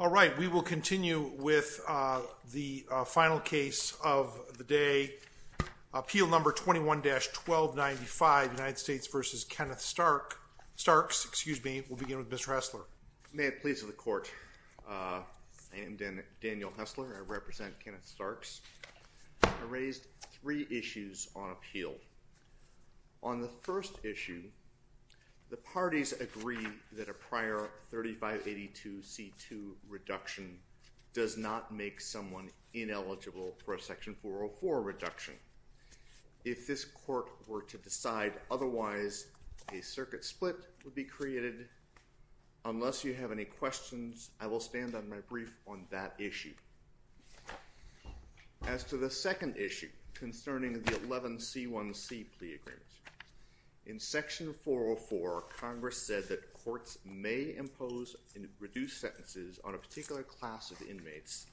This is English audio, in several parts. May it please the court. I am Daniel Hessler. I represent Kenneth Starks. I raised three issues on appeal. On the first issue, the parties agree that a prior 3582 C2 reduction does not make someone ineligible for a section 404 reduction. If this court were to decide otherwise, a circuit split would be created. Unless you have any questions, I will stand on my brief on that issue. As to the second issue concerning the 11C1C plea agreement, in section 404, Congress said that courts may impose and reduce sentences on a particular class of inmates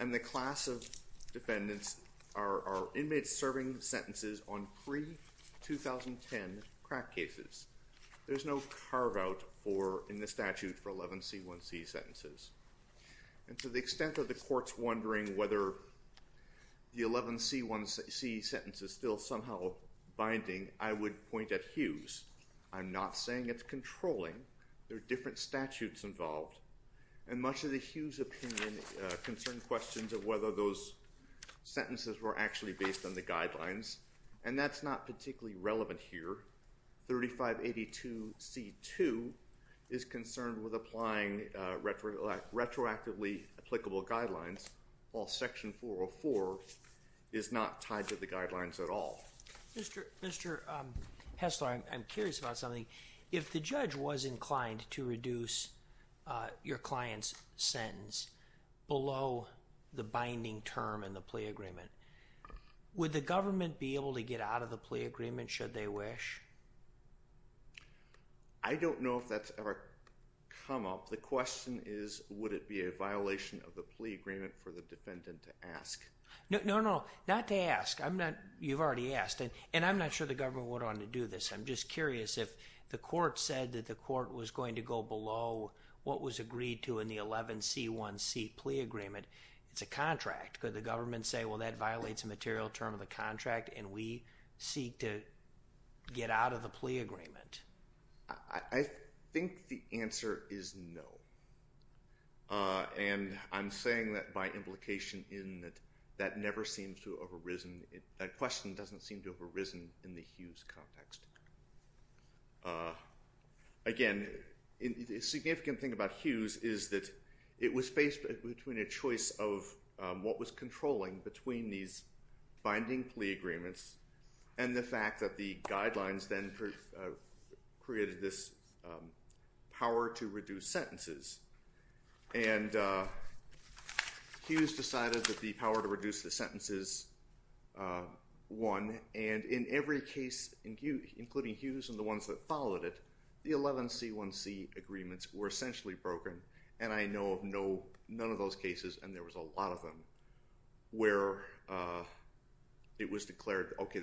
and the class of defendants are inmates serving sentences on pre-2010 crack cases. There's no carve out in the statute for 11C1C sentences. And to the extent that the court's wondering whether the 11C1C sentence is still somehow binding, I would point at Hughes. I'm not saying it's controlling. There are different statutes involved. And much of the Hughes opinion concerned questions of whether those sentences were actually based on the guidelines. And that's not particularly relevant here. 3582C2 is concerned with applying retroactively applicable guidelines while section 404 is not tied to the guidelines at all. Mr. Hessler, I'm curious about something. If the judge was inclined to reduce your client's sentence below the binding term in the plea agreement, would the government be able to get out of the plea agreement should they wish? I don't know if that's ever come up. The question is would it be a violation of the plea agreement for the defendant to ask? No, not to ask. You've already asked. And I'm not sure the government would want to do this. I'm just curious if the court said that the court was going to go below what was agreed to in the 11C1C plea agreement. It's a contract. Could the government say well that violates a material term of the contract and we seek to get out of the plea agreement? I think the answer is no. And I'm saying that by implication in that that never seems to have arisen. That question doesn't seem to have arisen in the Hughes context. Again, the significant thing about Hughes is that it was based between a choice of what was controlling between these binding plea agreements and the fact that the guidelines then created this power to reduce sentences. And Hughes decided that the power to reduce the sentences won. And in every case, including Hughes and the ones that followed it, the 11C1C agreements were essentially broken. And I know of none of those cases, and there was a lot of them, where it was declared, OK,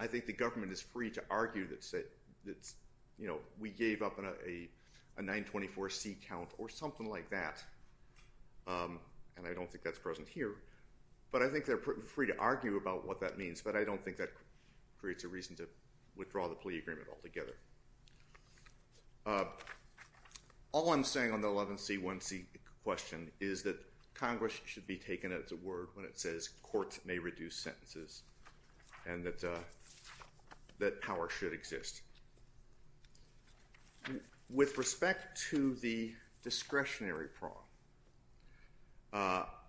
I think the government is free to argue that we gave up a 924C count or something like that. And I don't think that's present here. But I think they're free to argue about what that means, but I don't think that creates a reason to withdraw the plea agreement altogether. All I'm saying on the 11C1C question is that Congress should be taken at its word when it says courts may reduce sentences and that power should exist. With respect to the discretionary prong,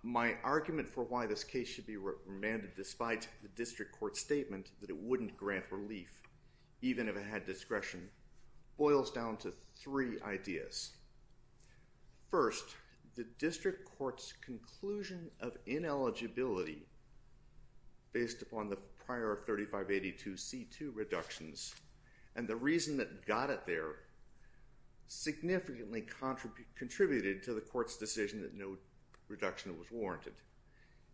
my argument for why this case should be remanded despite the district court's statement that it wouldn't grant relief, even if it had discretion, boils down to three ideas. First, the district court's conclusion of ineligibility based upon the prior 3582C2 reductions and the reason that got it there significantly contributed to the court's decision that no reduction was warranted.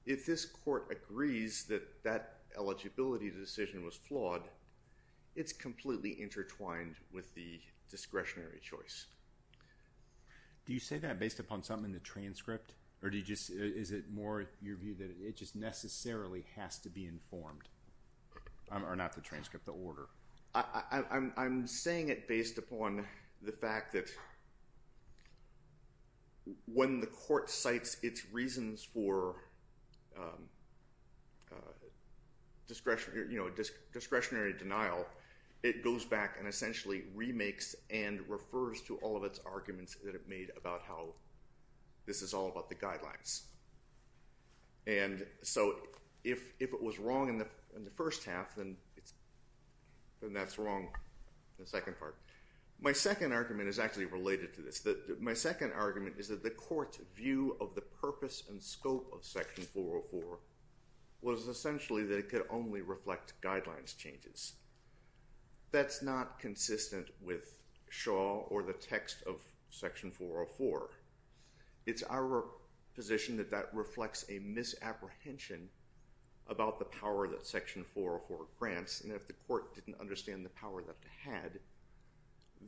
If this court agrees that that eligibility decision was flawed, it's completely intertwined with the discretionary choice. Do you say that based upon something in the transcript, or is it more your view that it just necessarily has to be informed, or not the transcript, the order? I'm saying it based upon the fact that when the court cites its reasons for discretionary denial, it goes back and essentially remakes and refers to all of its arguments that it made about how this is all about the guidelines. And so if it was wrong in the first half, then that's wrong in the second part. My second argument is actually related to this. My second argument is that the court's view of the purpose and scope of Section 404 was essentially that it could only reflect guidelines changes. That's not consistent with Shaw or the text of Section 404. It's our position that that reflects a misapprehension about the power that Section 404 grants. And if the court didn't understand the power that it had,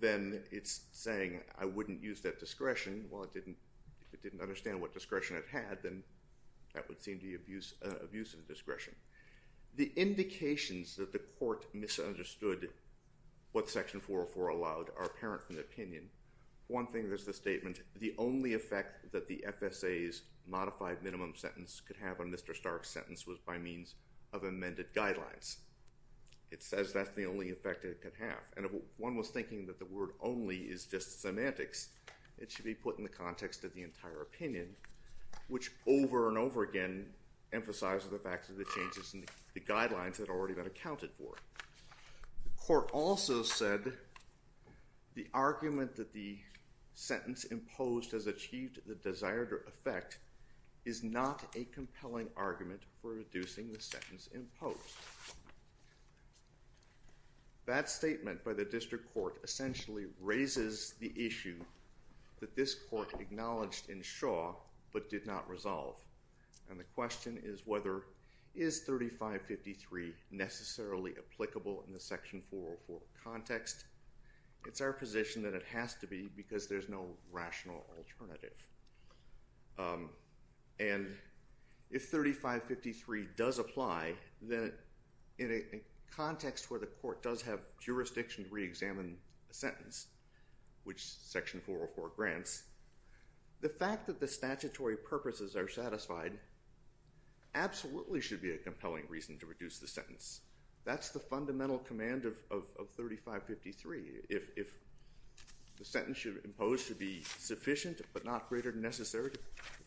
then it's saying, I wouldn't use that discretion. Well, if it didn't understand what discretion it had, then that would seem to be abuse of discretion. The indications that the court misunderstood what Section 404 allowed are apparent from the opinion. One thing is the statement, the only effect that the FSA's modified minimum sentence could have on Mr. Stark's sentence was by means of amended guidelines. It says that's the only effect it could have. And if one was thinking that the word only is just semantics, it should be put in the context of the entire opinion, which over and over again emphasizes the fact that the changes in the guidelines had already been accounted for. The court also said the argument that the sentence imposed has achieved the desired effect is not a compelling argument for reducing the sentence imposed. That statement by the district court essentially raises the issue that this court acknowledged in Shaw but did not resolve. And the question is whether, is 3553 necessarily applicable in the Section 404 context? It's our position that it has to be because there's no rational alternative. And if 3553 does apply, then in a context where the court does have jurisdiction to reexamine a sentence, which Section 404 grants, the fact that the statutory purposes are satisfied absolutely should be a compelling reason to reduce the sentence. That's the fundamental command of 3553. If the sentence should be imposed to be sufficient but not greater than necessary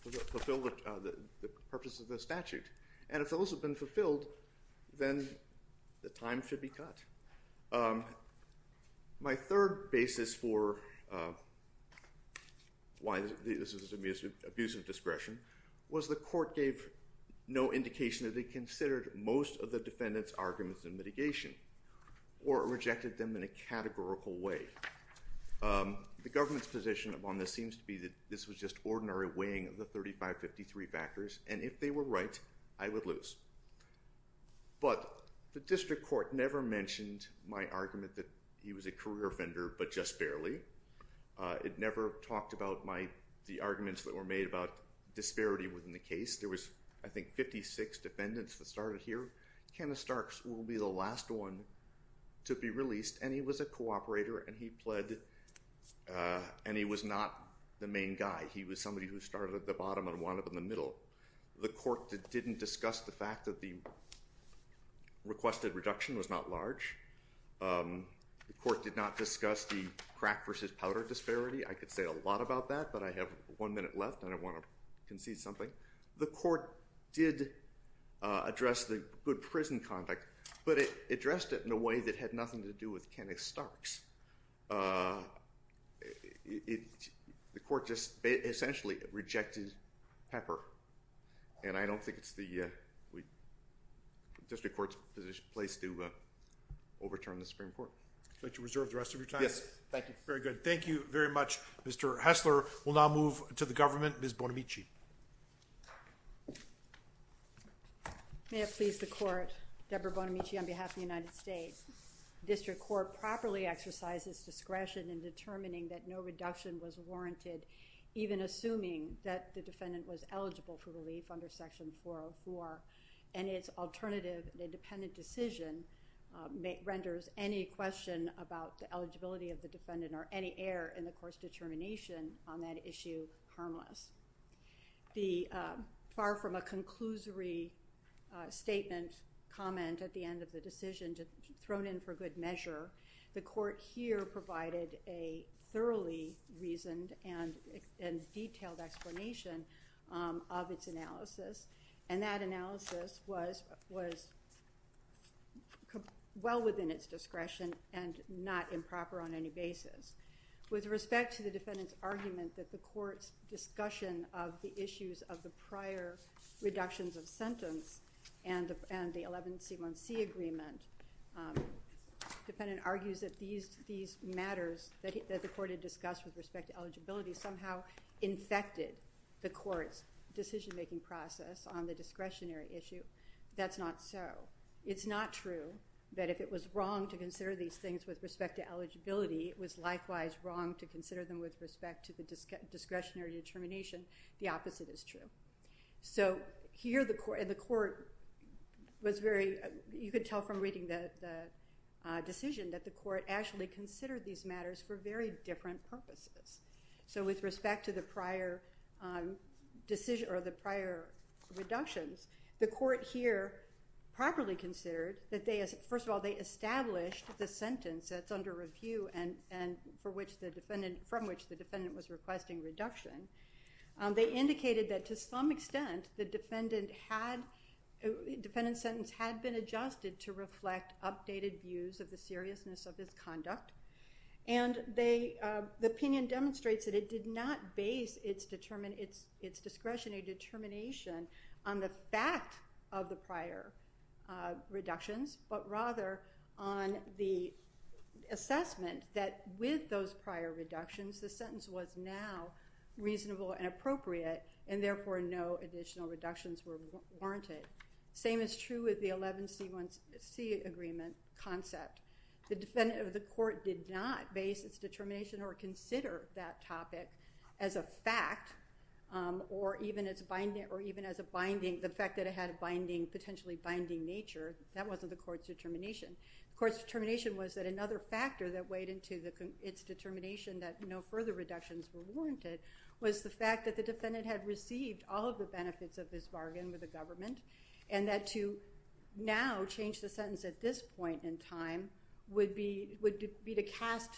to fulfill the purpose of the statute. And if those have been fulfilled, then the time should be cut. My third basis for why this is an abuse of discretion was the court gave no indication that it considered most of the defendant's arguments in mitigation or rejected them in a categorical way. The government's position on this seems to be that this was just ordinary weighing of the 3553 factors, and if they were right, I would lose. But the district court never mentioned my argument that he was a career offender, but just barely. It never talked about the arguments that were made about disparity within the case. There was, I think, 56 defendants that started here. Kenneth Starks will be the last one to be released, and he was a cooperator, and he was not the main guy. He was somebody who started at the bottom and wound up in the middle. The court didn't discuss the fact that the requested reduction was not large. The court did not discuss the crack versus powder disparity. I could say a lot about that, but I have one minute left, and I want to concede something. The court did address the good prison conduct, but it addressed it in a way that had nothing to do with Kenneth Starks. The court just essentially rejected pepper, and I don't think it's the district court's place to overturn the Supreme Court. Would you like to reserve the rest of your time? Yes, thank you. Very good. Thank you very much, Mr. Hessler. We'll now move to the government. Ms. Bonamici. May it please the court, Deborah Bonamici on behalf of the United States. The district court properly exercises discretion in determining that no reduction was warranted, even assuming that the defendant was eligible for relief under Section 404, and its alternative independent decision renders any question about the eligibility of the defendant or any error in the court's determination on that issue harmless. Far from a conclusory statement, comment at the end of the decision thrown in for good measure, the court here provided a thoroughly reasoned and detailed explanation of its analysis, and that analysis was well within its discretion and not improper on any basis. With respect to the defendant's argument that the court's discussion of the issues of the prior reductions of sentence and the 11C1C agreement, the defendant argues that these matters that the court had discussed with respect to eligibility somehow infected the court's decision-making process on the discretionary issue. That's not so. It's not true that if it was wrong to consider these things with respect to eligibility, it was likewise wrong to consider them with respect to the discretionary determination. The opposite is true. So here the court was very, you could tell from reading the decision that the court actually considered these matters for very different purposes. So with respect to the prior decision or the prior reductions, the court here properly considered that, first of all, they established the sentence that's under review from which the defendant was requesting reduction. They indicated that to some extent the defendant's sentence had been adjusted to reflect updated views of the seriousness of his conduct, and the opinion demonstrates that it did not base its discretionary determination on the fact of the prior reductions, but rather on the assessment that with those prior reductions, the sentence was now reasonable and appropriate, and therefore no additional reductions were warranted. Same is true with the 11C1C agreement concept. The court did not base its determination or consider that topic as a fact or even as a binding, the fact that it had a binding, potentially binding nature. That wasn't the court's determination. The court's determination was that another factor that weighed into its determination that no further reductions were warranted was the fact that the defendant had received all of the benefits of this bargain with the government, and that to now change the sentence at this point in time would be to cast,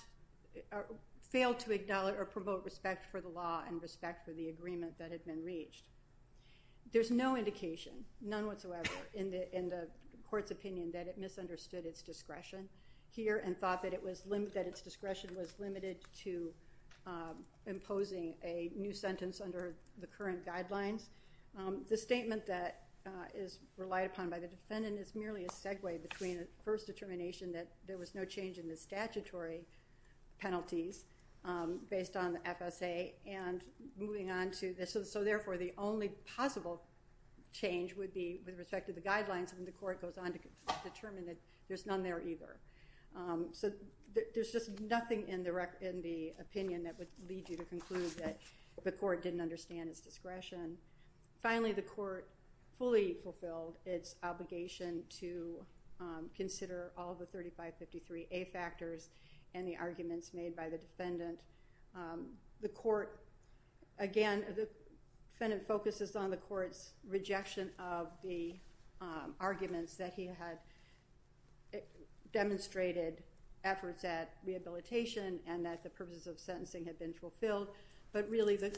fail to acknowledge or promote respect for the law and respect for the agreement that had been reached. There's no indication, none whatsoever in the court's opinion that it misunderstood its discretion here and thought that its discretion was limited to imposing a new sentence under the current guidelines. The statement that is relied upon by the defendant is merely a segue between a first determination that there was no change in the statutory penalties based on the FSA and moving on to this. So therefore, the only possible change would be with respect to the guidelines and the court goes on to determine that there's none there either. So there's just nothing in the opinion that would lead you to conclude that the court didn't understand its discretion. Finally, the court fully fulfilled its obligation to consider all the 3553A factors and the arguments made by the defendant. The court, again, the defendant focuses on the court's rejection of the arguments that he had demonstrated efforts at rehabilitation and that the purposes of sentencing had been fulfilled, but really the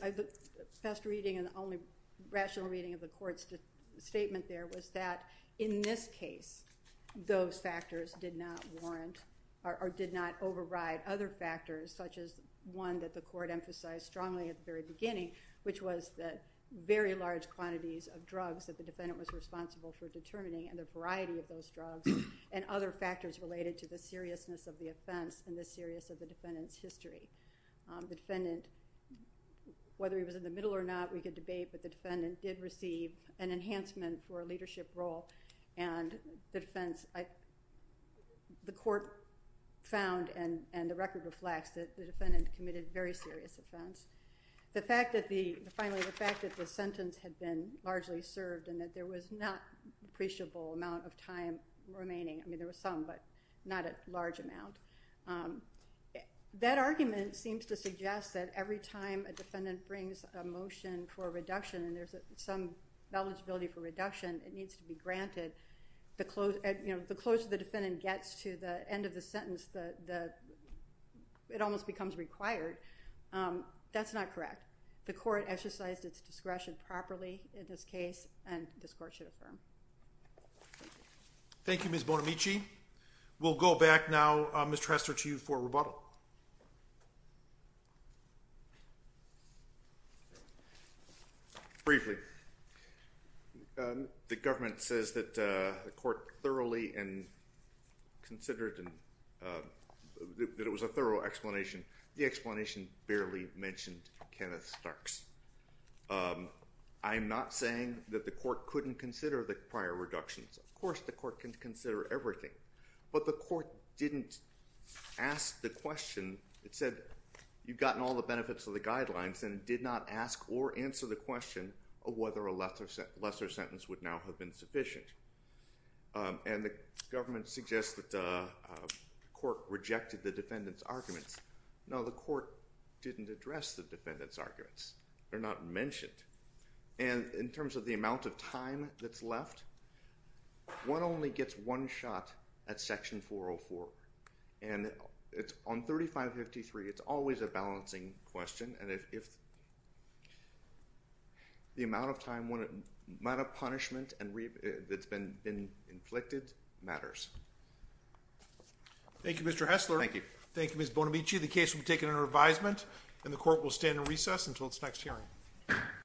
best reading and the only rational reading of the court's statement there was that in this case, those factors did not warrant or did not override other factors such as one that the court emphasized strongly at the very beginning, which was that very large quantities of drugs that the defendant was responsible for determining and the variety of those drugs and other factors related to the seriousness of the offense and the seriousness of the defendant's history. The defendant, whether he was in the middle or not, we could debate, but the defendant did receive an enhancement for a leadership role and the defense, the court found and the record reflects that the defendant committed very serious offense. Finally, the fact that the sentence had been largely served and that there was not appreciable amount of time remaining. I mean, there was some, but not a large amount. That argument seems to suggest that every time a defendant brings a motion for reduction and there's some eligibility for reduction, it needs to be granted. The closer the defendant gets to the end of the sentence, it almost becomes required. That's not correct. The court exercised its discretion properly in this case and this court should affirm. Thank you, Ms. Bonamici. We'll go back now, Ms. Trestor, to you for rebuttal. Briefly, the government says that the court thoroughly and considered and that it was a thorough explanation. The explanation barely mentioned Kenneth Starks. I'm not saying that the court couldn't consider the prior reductions. Of course, the court can consider everything, but the court didn't ask the question. It said, you've gotten all the benefits of the guidelines and ask or answer the question of whether a lesser sentence would now have been sufficient. And the government suggests that the court rejected the defendant's arguments. No, the court didn't address the defendant's arguments. They're not mentioned. And in terms of the amount of time that's left, one only gets one shot at Section 404. And on 3553, it's always a balancing question. And if the amount of punishment that's been inflicted matters. Thank you, Mr. Hessler. Thank you. Thank you, Ms. Bonamici. The case will be taken under advisement, and the court will stand in recess until its next hearing.